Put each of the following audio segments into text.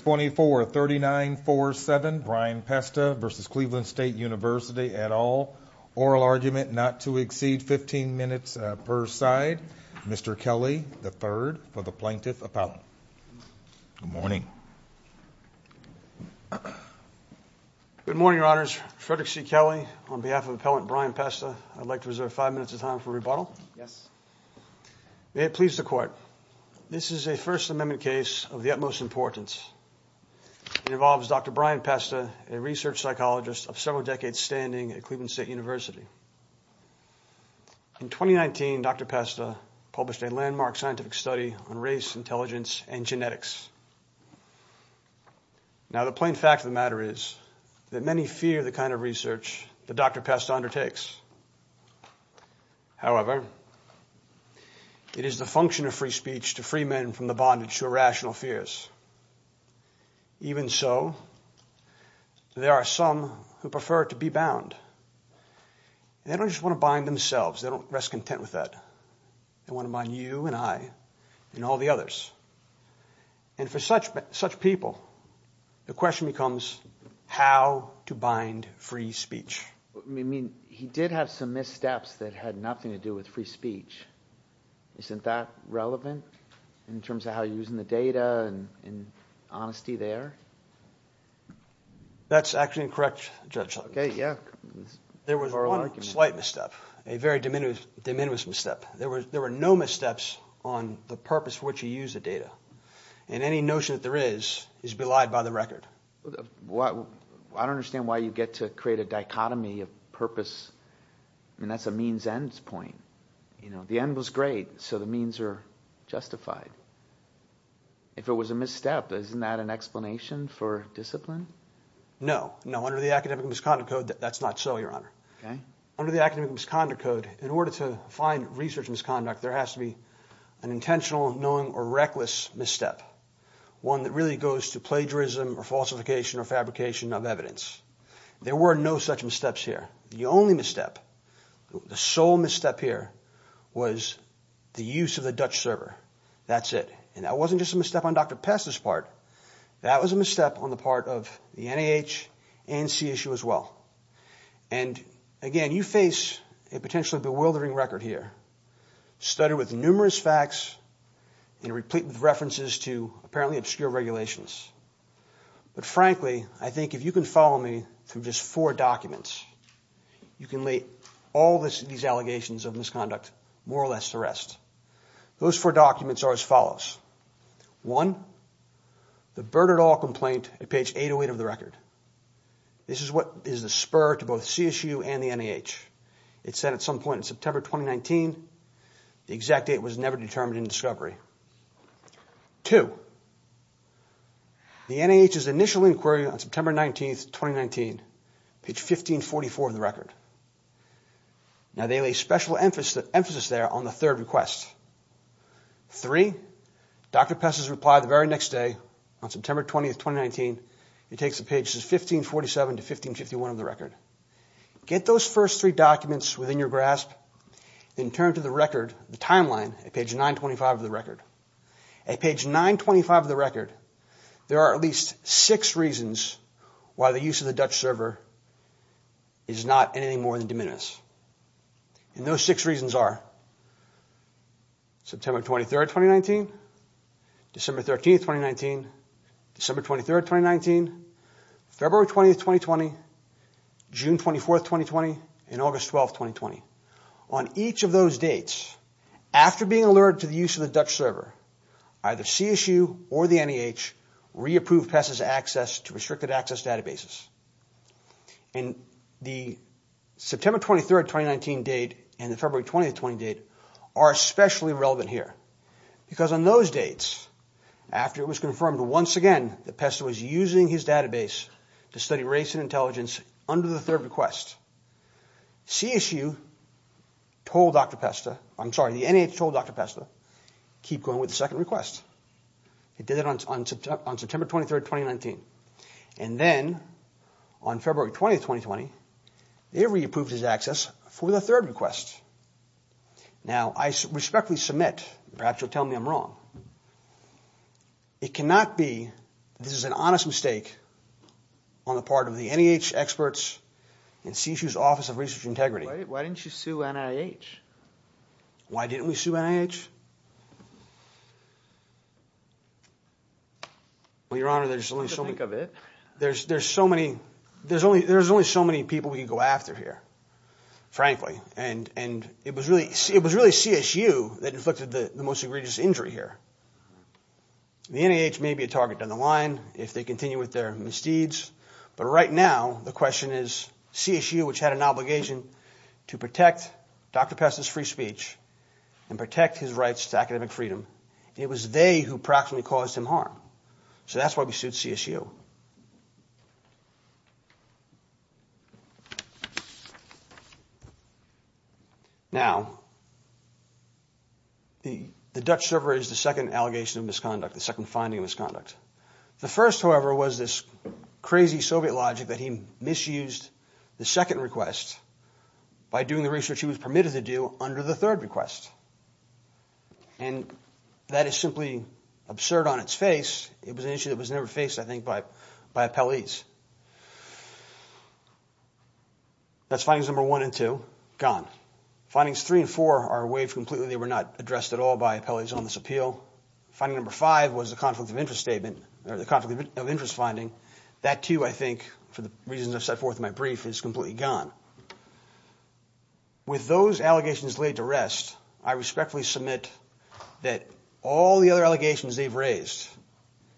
243947 Brian Pesta v. Cleveland State University et al. Oral argument not to exceed 15 minutes per side. Mr. Kelly III for the Plaintiff Appellant. Good morning. Good morning, Your Honors. Frederick C. Kelly on behalf of Appellant Brian Pesta. I'd like to reserve five minutes of time for rebuttal. Yes. May it please the Court. This is a First Amendment case of the importance. It involves Dr. Brian Pesta, a research psychologist of several decades standing at Cleveland State University. In 2019, Dr. Pesta published a landmark scientific study on race, intelligence, and genetics. Now the plain fact of the matter is that many fear the kind of research that Dr. Pesta undertakes. However, it is the function of free speech to free men from the bondage of rational fears. Even so, there are some who prefer to be bound. They don't just want to bind themselves. They don't rest content with that. They want to bind you and I and all the others. And for such people, the question becomes how to bind free speech. I mean, he did have some missteps that had nothing to do with free speech. Isn't that relevant in terms of how you're using the data and honesty there? That's actually incorrect, Judge Sutton. Okay, yeah. There was one slight misstep, a very de minimis misstep. There were no missteps on the purpose for which you use the data. And any notion that there is, is belied by the record. I don't understand why you get to create a dichotomy of purpose. I mean, that's a means-ends point. You know, the end was great, so the ends are justified. If it was a misstep, isn't that an explanation for discipline? No, no. Under the Academic Misconduct Code, that's not so, Your Honor. Under the Academic Misconduct Code, in order to find research misconduct, there has to be an intentional, knowing, or reckless misstep. One that really goes to plagiarism or falsification or fabrication of evidence. There were no such missteps here. The only misstep, the sole misstep here, was the use of the Dutch server. That's it. And that wasn't just a misstep on Dr. Pest's part. That was a misstep on the part of the NIH and CSU as well. And again, you face a potentially bewildering record here, studded with numerous facts and replete with references to apparently obscure regulations. But frankly, I think if you can follow me through just four documents, you can lay all these allegations of misconduct, more or less, to rest. Those four documents are as follows. One, the Burt et al. complaint at page 808 of the record. This is what is the spur to both CSU and the NIH. It said at some point in September 2019, the exact date was never determined in discovery. Two, the NIH's initial inquiry on September 19th, 2019, page 1544 of the record. Now they lay special emphasis there on the third request. Three, Dr. Pest's reply the very next day on September 20th, 2019. It takes the pages 1547 to 1551 of the record. Get those first three documents within your grasp. Then turn to the record, the timeline at page 925 of the record. At page 925 of the record, there are at least six reasons why the use of the Dutch server is not anything more than diminished. And those six reasons are September 23rd, 2019, December 13th, 2019, December 23rd, 2019, February 20th, 2020, June 24th, 2020, and August 12th, 2020. On each of those dates, after being alerted to the use of the Dutch server, either CSU or the NIH re-approved Pest's access to restricted access databases. And the September 23rd, 2019 date and the February 20th, 2020 date are especially relevant here. Because on those dates, after it was confirmed once again that Pest was using his database to study race and intelligence under the third request, CSU told Dr. Pest, I'm sorry, the NIH told Dr. Pest to keep going with the second request. It did it on September 23rd, 2019. And then on February 20th, 2020, they re-approved his access for the third request. Now, I respectfully submit, perhaps you'll tell me I'm wrong, it cannot be this is an honest mistake on the part of the NIH experts and CSU's Office of Research Integrity. Why didn't you sue NIH? Why didn't we sue NIH? Well, your honor, there's only so many people we can go after here, frankly. And it was really CSU that inflicted the most egregious injury here. The NIH may be a target down the line if they continue with their misdeeds. But right now, the question is CSU, which had an obligation to protect Dr. Pest's free speech and protect his rights to academic freedom. It was they who practically caused him harm. So that's why we sued CSU. Now, the Dutch server is the second allegation of misconduct, the second finding of misconduct. The first, however, was this crazy Soviet logic that he misused the second request by doing the research he was permitted to do under the third request. And that is simply absurd on its face. It was an issue that was never faced, I think, by by appellees. That's findings number one and two, gone. Findings three and four are waived completely, they were not addressed at all by appellees on this appeal. Finding number five was the conflict of interest statement or the conflict of interest finding. That too, I think, for the reasons I've set forth in my brief, is completely gone. With those allegations laid to rest, I respectfully submit that all the other allegations they've raised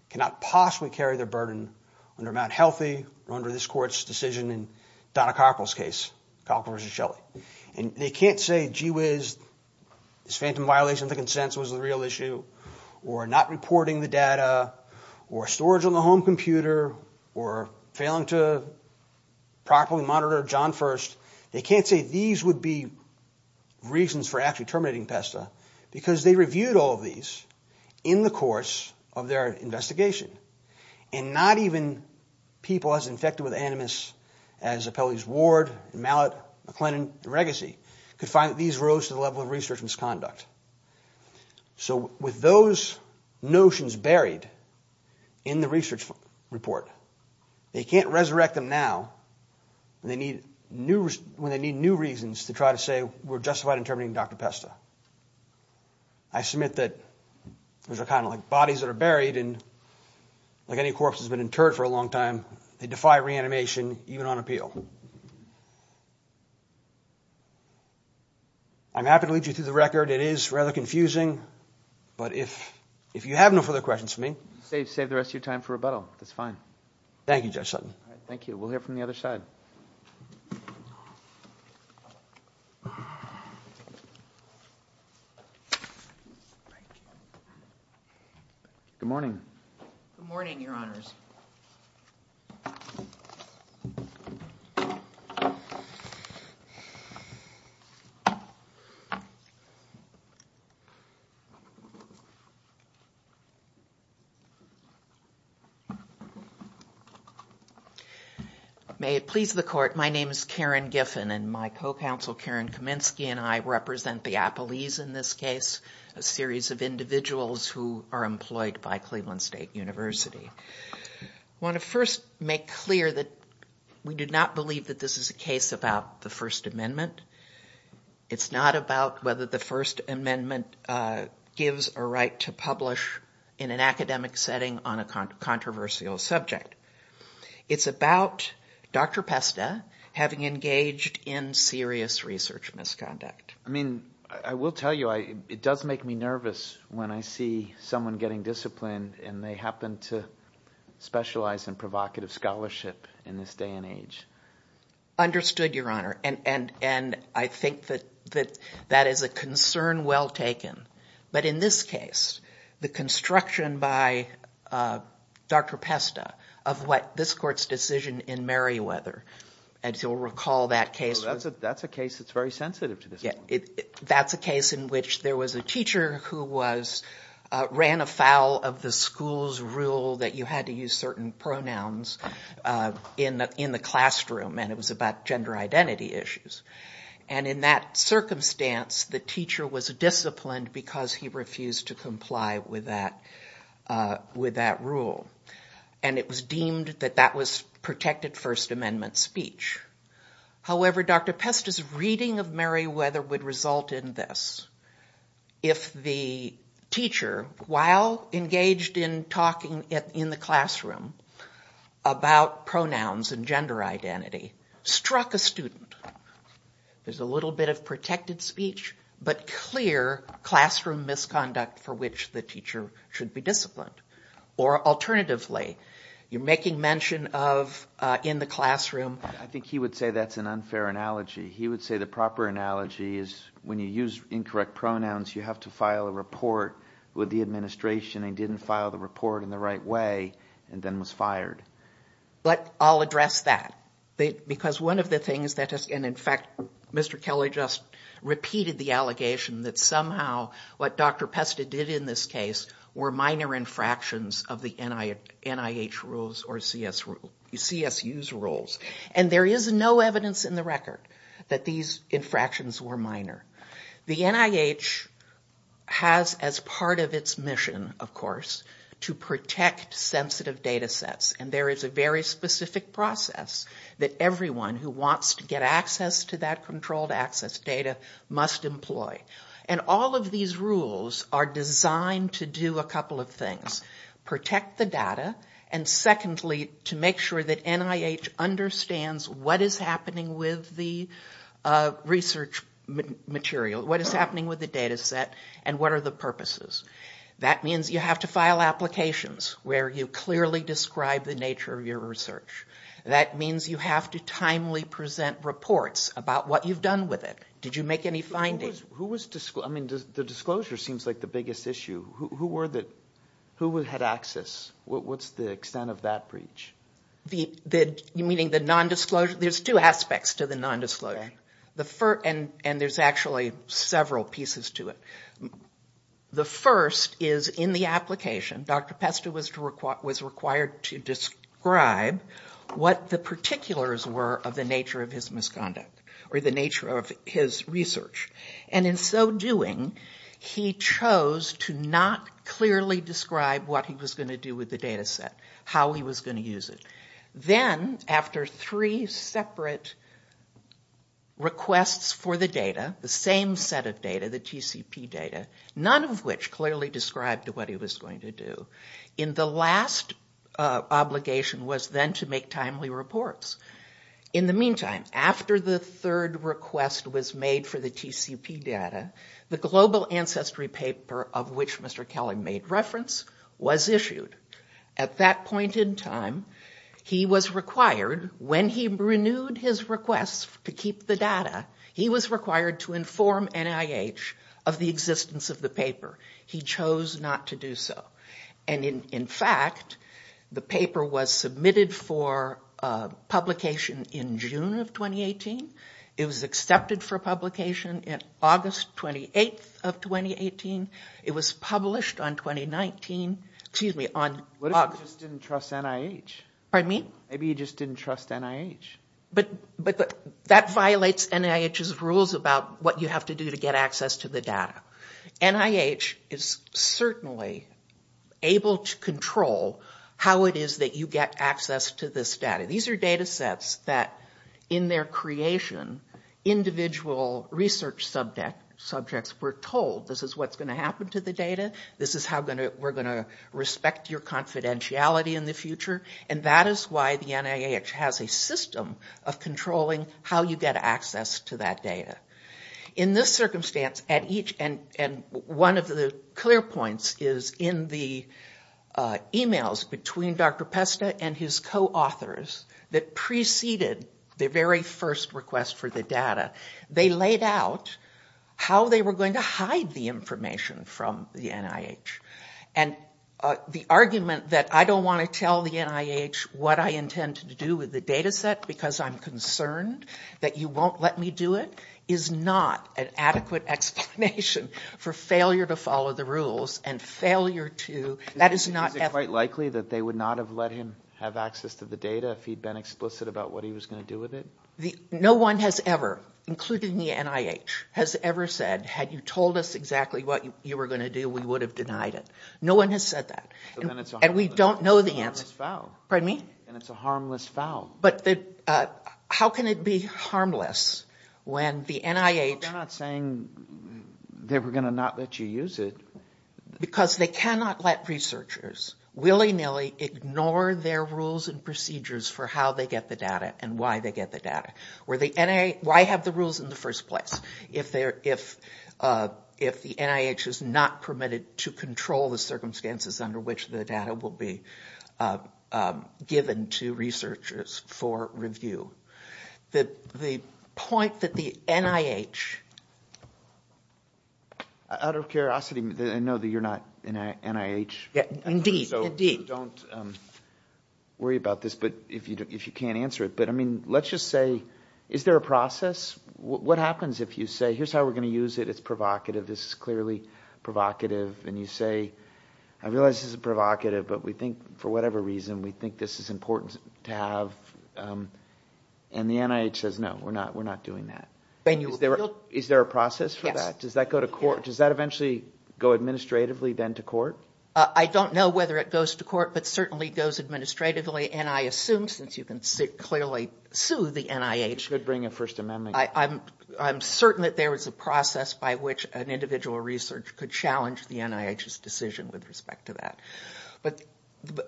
cannot possibly carry their burden under Mt. Healthy or under this court's decision in Donna Coppola's case, Coppola v. Shelley. And they can't say, gee whiz, this phantom violation of the consensus was the real issue, or not reporting the data, or storage on the home computer, or failing to properly monitor John First. They can't say these would be reasons for actually terminating PESTA, because they reviewed all of these in the course of their investigation. And not even people as infected with Animus as appellees Ward, Mallett, McLennan, and Regassi could find that these rose to the level of research misconduct. So with those notions buried in the research report, they can't resurrect them now when they need new reasons to try to say we're justified in terminating Dr. PESTA. I submit that those are kind of like bodies that are buried, and like any corpse that's been interred for a long time, they defy reanimation even on appeal. I'm happy to lead you through the record. It is rather confusing. But if you have no further questions for me... Save the rest of your time for rebuttal. That's fine. Thank you, Judge Sutton. Thank you. We'll hear from the other side. Thank you. Good morning. Good morning, Your Honors. May it please the Court, my name is Karen Giffen, and my co-counsel Karen Kaminsky and I represent the appellees in this case, a series of individuals who are employed by Cleveland State University. I want to first make clear that we do not believe that this is a case about the First Amendment. It's not about whether the First Amendment gives a right to publish in an academic setting on a controversial subject. It's about Dr. PESTA having engaged in serious research misconduct. I mean, I will tell you, it does make me nervous when I see someone getting disciplined and they happen to specialize in provocative scholarship in this day and age. Understood, Your Honor. And I think that that is a concern well taken. But in this case, the construction by Dr. PESTA of what this Court's decision in Merriweather, as you'll recall that case... That's a case that's very sensitive to this point. That's a case in which there was a teacher who ran afoul of the school's rule that you had to use certain pronouns in the classroom and it was about gender identity issues. And in that circumstance, the teacher was disciplined because he refused to comply with that rule. And it was deemed that that was protected First Amendment speech. However, Dr. PESTA's reading of Merriweather would result in this. If the teacher, while engaged in talking in the classroom about pronouns and gender identity, struck a student, there's a little bit of protected speech, but clear classroom misconduct for which the teacher should be disciplined. Or alternatively, you're making mention of in the classroom. I think he would say that's an unfair analogy. He would say the proper analogy is when you use incorrect pronouns, you have to file a report with the administration and didn't file the report in the right way and then was fired. But I'll address that. Because one of the things that has... And in fact, Mr. Kelly just repeated the allegation that somehow what Dr. PESTA did in this case were minor infractions of the NIH rules or CSU's rules. And there is no evidence in the record that these infractions were minor. The NIH has as part of its mission, of course, to protect sensitive data sets. And there is a very specific process that everyone who wants to get access to that controlled access data must employ. And all of these rules are designed to do a couple of things. Protect the data. And secondly, to make sure that NIH understands what is happening with the research material, what is happening with the data set and what are the purposes. That means you have to file applications where you clearly describe the nature of your research. That means you have to timely present reports about what you've done with it. Did you make any findings? Who was... I mean, the disclosure seems like the biggest issue. Who were the... Who had access? What's the extent of that breach? Meaning the non-disclosure? There's two aspects to the non-disclosure. And there's actually several pieces to it. The first is in the application, Dr. PESTA was required to describe what the particulars were of the nature of his misconduct or the nature of his research. And in so doing, he chose to not clearly describe what he was going to do with the data set, how he was going to use it. Then, after three separate requests for the data, the same set of data, the TCP data, none of which clearly described what he was going to do, the last obligation was then to make timely reports. In the meantime, after the third request was made for the TCP data, the Global Ancestry paper of which Mr. Kelly made reference was issued. At that point in time, he was required, when he renewed his request to keep the data, he was required to inform NIH of the existence of the paper. He chose not to do so. And in fact, the paper was submitted for publication in June of 2018. It was accepted for publication in August 28th of 2018. It was published on 2019, excuse me, on August... What if he just didn't trust NIH? Pardon me? Maybe he just didn't trust NIH. But that violates NIH's rules about what you have to do to get access to the data. NIH is certainly able to control how it is that you get access to this data. These are data sets that, in their creation, individual research subjects were told, this is what's going to happen to the data, this is how we're going to respect your confidentiality in the future, and that is why the NIH has a system of controlling how you get access to that data. In this circumstance, and one of the clear points is in the emails between Dr. Pesta and his co-authors that preceded the very first request for the data, they laid out how they were going to hide the information from the NIH. And the argument that I don't want to tell the NIH what I intend to do with the data set because I'm concerned that you are not an adequate explanation for failure to follow the rules and failure to... Is it quite likely that they would not have let him have access to the data if he'd been explicit about what he was going to do with it? No one has ever, including the NIH, has ever said, had you told us exactly what you were going to do, we would have denied it. No one has said that. And we don't know the answer. Then it's a harmless foul. Pardon me? Then it's a harmless foul. But how can it be harmless when the NIH... They're not saying they were going to not let you use it. Because they cannot let researchers willy-nilly ignore their rules and procedures for how they get the data and why they get the data. Why have the rules in the first place? If the NIH is not permitted to control the circumstances under which the data will be for review, the point that the NIH... Out of curiosity, I know that you're not NIH. Indeed. So don't worry about this if you can't answer it. But let's just say, is there a process? What happens if you say, here's how we're going to use it. It's provocative. This is clearly provocative. And you say, I realize this is provocative, but we think for whatever reason we think this is important to have. And the NIH says, no, we're not doing that. Is there a process for that? Does that go to court? Does that eventually go administratively then to court? I don't know whether it goes to court, but certainly goes administratively. And I assume since you can clearly sue the NIH... You could bring a First Amendment. I'm certain that there is a process by which an individual researcher could challenge the NIH's decision with respect to that. But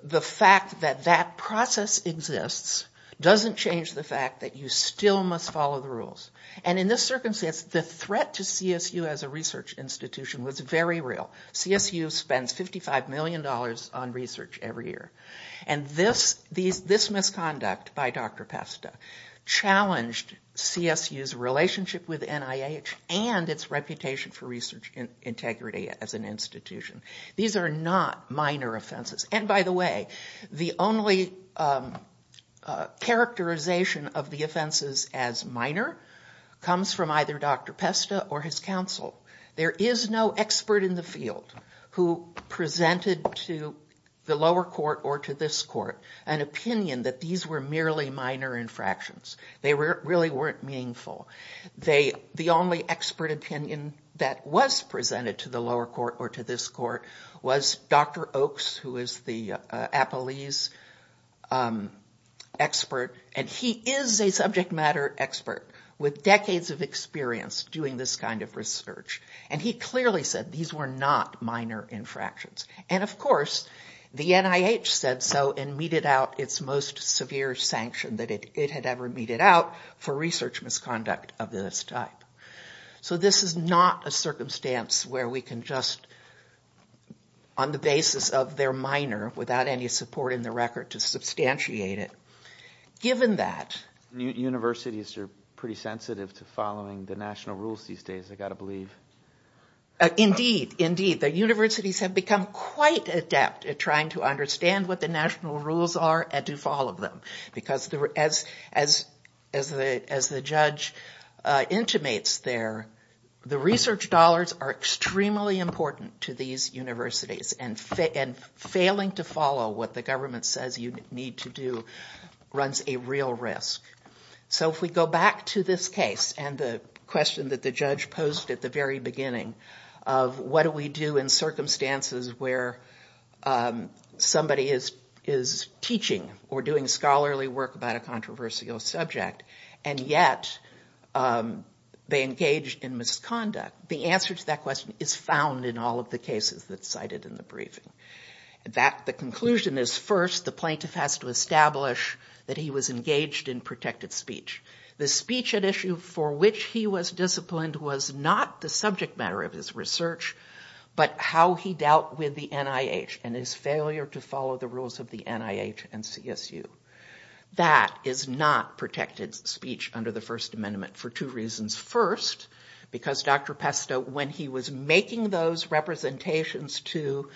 the fact that that process exists doesn't change the fact that you still must follow the rules. And in this circumstance, the threat to CSU as a research institution was very real. CSU spends $55 million on research every year. And this misconduct by Dr. Pesta challenged CSU's relationship with NIH and its reputation for research integrity as an institution. These are not minor offenses. And by the way, the only characterization of the offenses as minor comes from either Dr. Pesta or his counsel. There is no expert in the field who presented to the lower court or to this court an opinion that these were merely minor infractions. They really weren't meaningful. The only expert opinion that was presented to the lower court or to this court was Dr. Oaks, who is the Appellee's expert. And he is a subject matter expert with decades of experience doing this kind of research. And he clearly said these were not minor infractions. And of course, the NIH said so and meted out its most severe sanction that it had ever meted out for research misconduct of this type. So this is not a circumstance where we can just, on the basis of their minor, without any support in the record, to substantiate it. Given that... Universities are pretty sensitive to following the national rules these days, I've got to believe. Indeed. Indeed. The universities have become quite adept at trying to understand what the judge intimates there. The research dollars are extremely important to these universities. And failing to follow what the government says you need to do runs a real risk. So if we go back to this case and the question that the judge posed at the very beginning of what do we do in circumstances where somebody is teaching or doing scholarly work about a and yet they engage in misconduct, the answer to that question is found in all of the cases that cited in the briefing. The conclusion is first, the plaintiff has to establish that he was engaged in protected speech. The speech at issue for which he was disciplined was not the subject matter of his research, but how he dealt with the NIH and his failure to follow the rules of the NIH and CSU. That is not protected speech under the First Amendment for two reasons. First, because Dr. Pesto, when he was making those representations to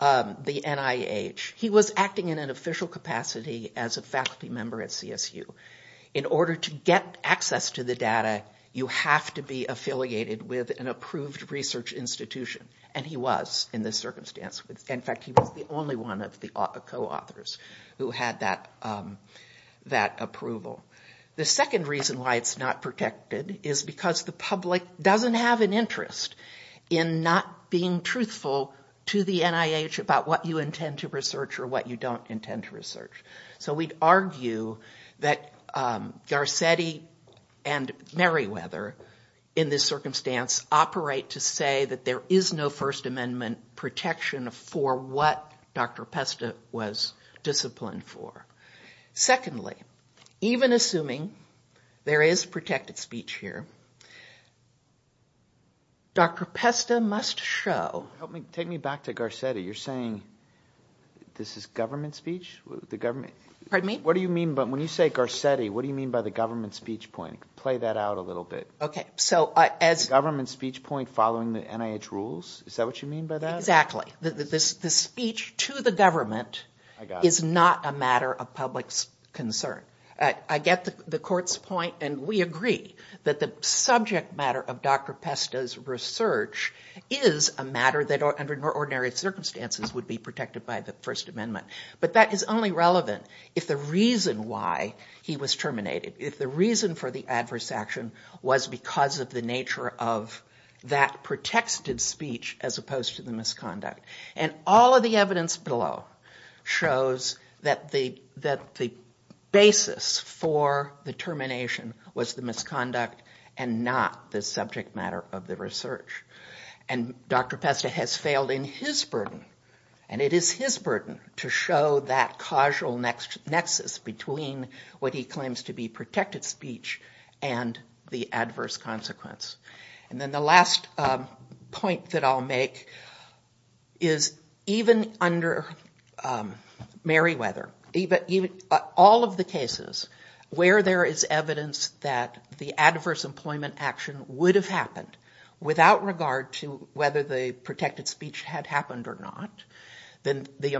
the NIH, he was acting in an official capacity as a faculty member at CSU. In order to get access to the data, you have to be affiliated with an approved research institution. And he was in this circumstance. In fact, he was the only one of the co-authors who had that approval. The second reason why it's not protected is because the public doesn't have an interest in not being truthful to the NIH about what you intend to research or what you don't intend to research. So we'd argue that Garcetti and Meriwether in this circumstance operate to say that there is no First Amendment protection for what Dr. Pesto was disciplined for. Secondly, even assuming there is protected speech here, Dr. Pesto must show... Take me back to Garcetti. You're saying this is government speech? Pardon me? What do you mean when you say Garcetti, what do you mean by the government speech point? Play that out a little bit. The government speech point following the NIH rules? Is that what you mean by that? Exactly. The speech to the government is not a matter of public concern. I get the court's point and we agree that the subject matter of Dr. Pesto's research is a matter that under ordinary circumstances would be protected by the First Amendment. But that is only relevant if the reason why he was terminated, if the reason for the adverse action was because of the nature of that protected speech as opposed to the misconduct. And all of the evidence below shows that the basis for the termination was the misconduct and not the subject matter of the research. And Dr. Pesto has failed in his burden, and it is his burden to show that causal nexus between what he claims to be protected speech and the adverse consequence. And then the last point that I'll make is even under Meriwether, all of the cases where there is evidence that the adverse employment action would have happened without regard to whether the protected speech had happened or not, then the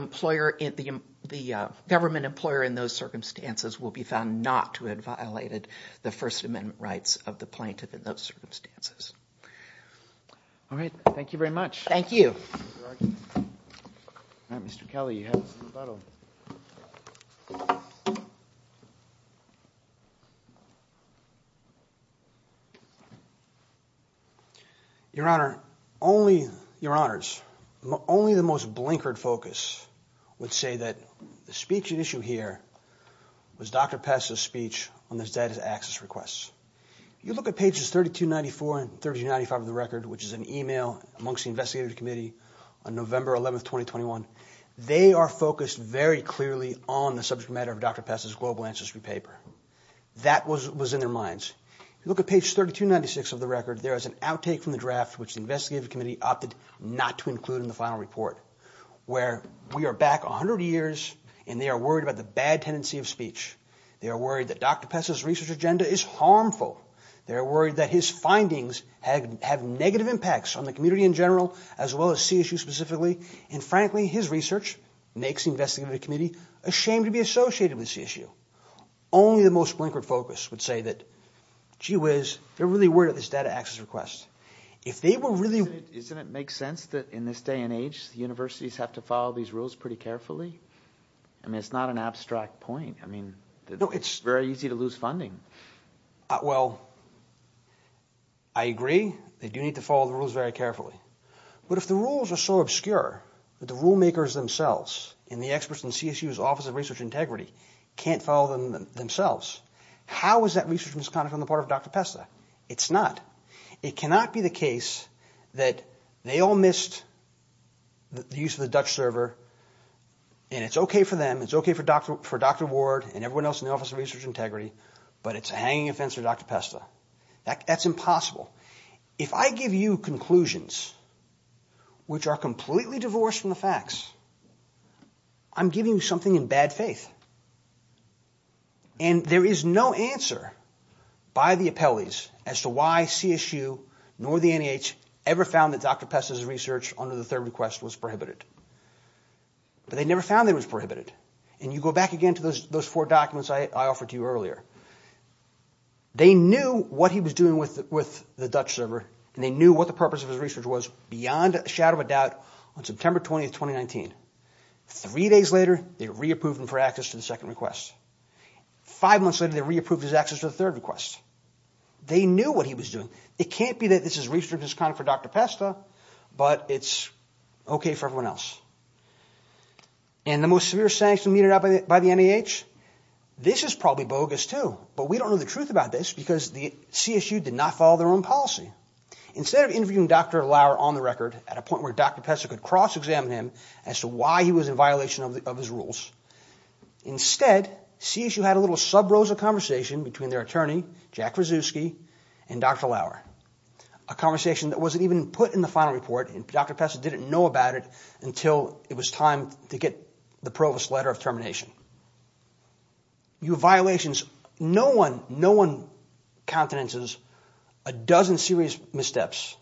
government employer in those circumstances will be found not to have violated the First Amendment rights of the plaintiff in those circumstances. All right. Thank you very much. Thank you. Mr. Kelly, you have this in the bottle. Thank you. Your Honor, only the most blinkered focus would say that the speech at issue here was Dr. Pesto's speech on the status access requests. You look at pages 3294 and 3295 of the record, which is an email amongst the investigative committee on November 11th, 2021. They are focused very clearly on the subject matter of Dr. Pesto's global ancestry paper. That was in their minds. You look at page 3296 of the record, there is an outtake from the draft, which the investigative committee opted not to include in the final report, where we are back 100 years, and they are worried about the bad tendency of speech. They are worried that Dr. Pesto's research agenda is harmful. They are worried that his findings have negative impacts on the community in general, as well as CSU specifically. And frankly, his research makes the investigative committee ashamed to be associated with CSU. Only the most blinkered focus would say that, gee whiz, they're really worried about this data access request. If they were really... Doesn't it make sense that in this day and age, universities have to follow these rules pretty carefully? I mean, it's not an abstract point. I mean, it's very easy to lose But if the rules are so obscure that the rule makers themselves and the experts in CSU's Office of Research Integrity can't follow them themselves, how is that research misconduct on the part of Dr. Pesto? It's not. It cannot be the case that they all missed the use of the Dutch server, and it's okay for them, it's okay for Dr. Ward and everyone else in the Office of Research Integrity, but it's a hanging offense to Dr. Pesto. That's impossible. If I give you conclusions which are completely divorced from the facts, I'm giving you something in bad faith. And there is no answer by the appellees as to why CSU nor the NEH ever found that Dr. Pesto's research under the third request was prohibited. But they never found that it was prohibited. And you go back again to those four documents I offered to you earlier. They knew what he was doing with the Dutch server, and they knew what the purpose of his research was beyond a shadow of a doubt on September 20th, 2019. Three days later, they re-approved him for access to the second request. Five months later, they re-approved his access to the third request. They knew what he was doing. It can't be that this research is kind of for Dr. Pesto, but it's okay for everyone else. And the most severe sanction meted out by the NEH, this is probably bogus too. But we don't know the truth about this because CSU did not follow their own policy. Instead of interviewing Dr. Lauer on the record at a point where Dr. Pesto could cross-examine him as to why he was in violation of his rules, instead CSU had a little sub-rose of conversation between their attorney, Jack Krasuski, and Dr. Lauer. A conversation that wasn't even put in the final report, and Dr. Pesto didn't know about it until it was time to get the provost letter of termination. You have violations. No one, no one countenances a dozen serious missteps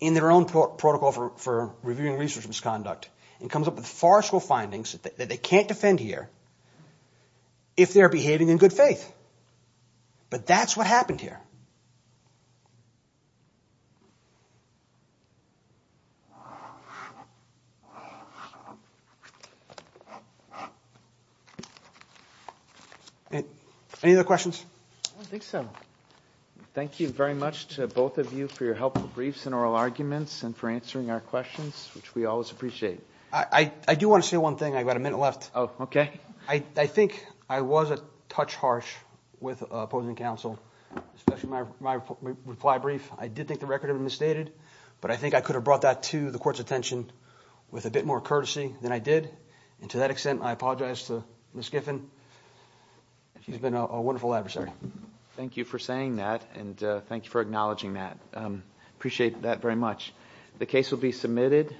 in their own protocol for reviewing research misconduct and comes up with farceful findings that they can't defend here if they're behaving in good faith. But that's what happened here. Any other questions? I don't think so. Thank you very much to both of you for your helpful briefs and oral arguments and for answering our questions, which we always appreciate. I do want to say one thing. I've got a minute left. Oh, okay. I think I was a touch harsh with opposing counsel especially my reply brief. I did think the record had been misstated, but I think I could have brought that to the court's attention with a bit more courtesy than I did. And to that extent, I apologize to Ms. Giffen. She's been a wonderful adversary. Thank you for saying that and thank you for acknowledging that. Appreciate that very much. The case will be submitted.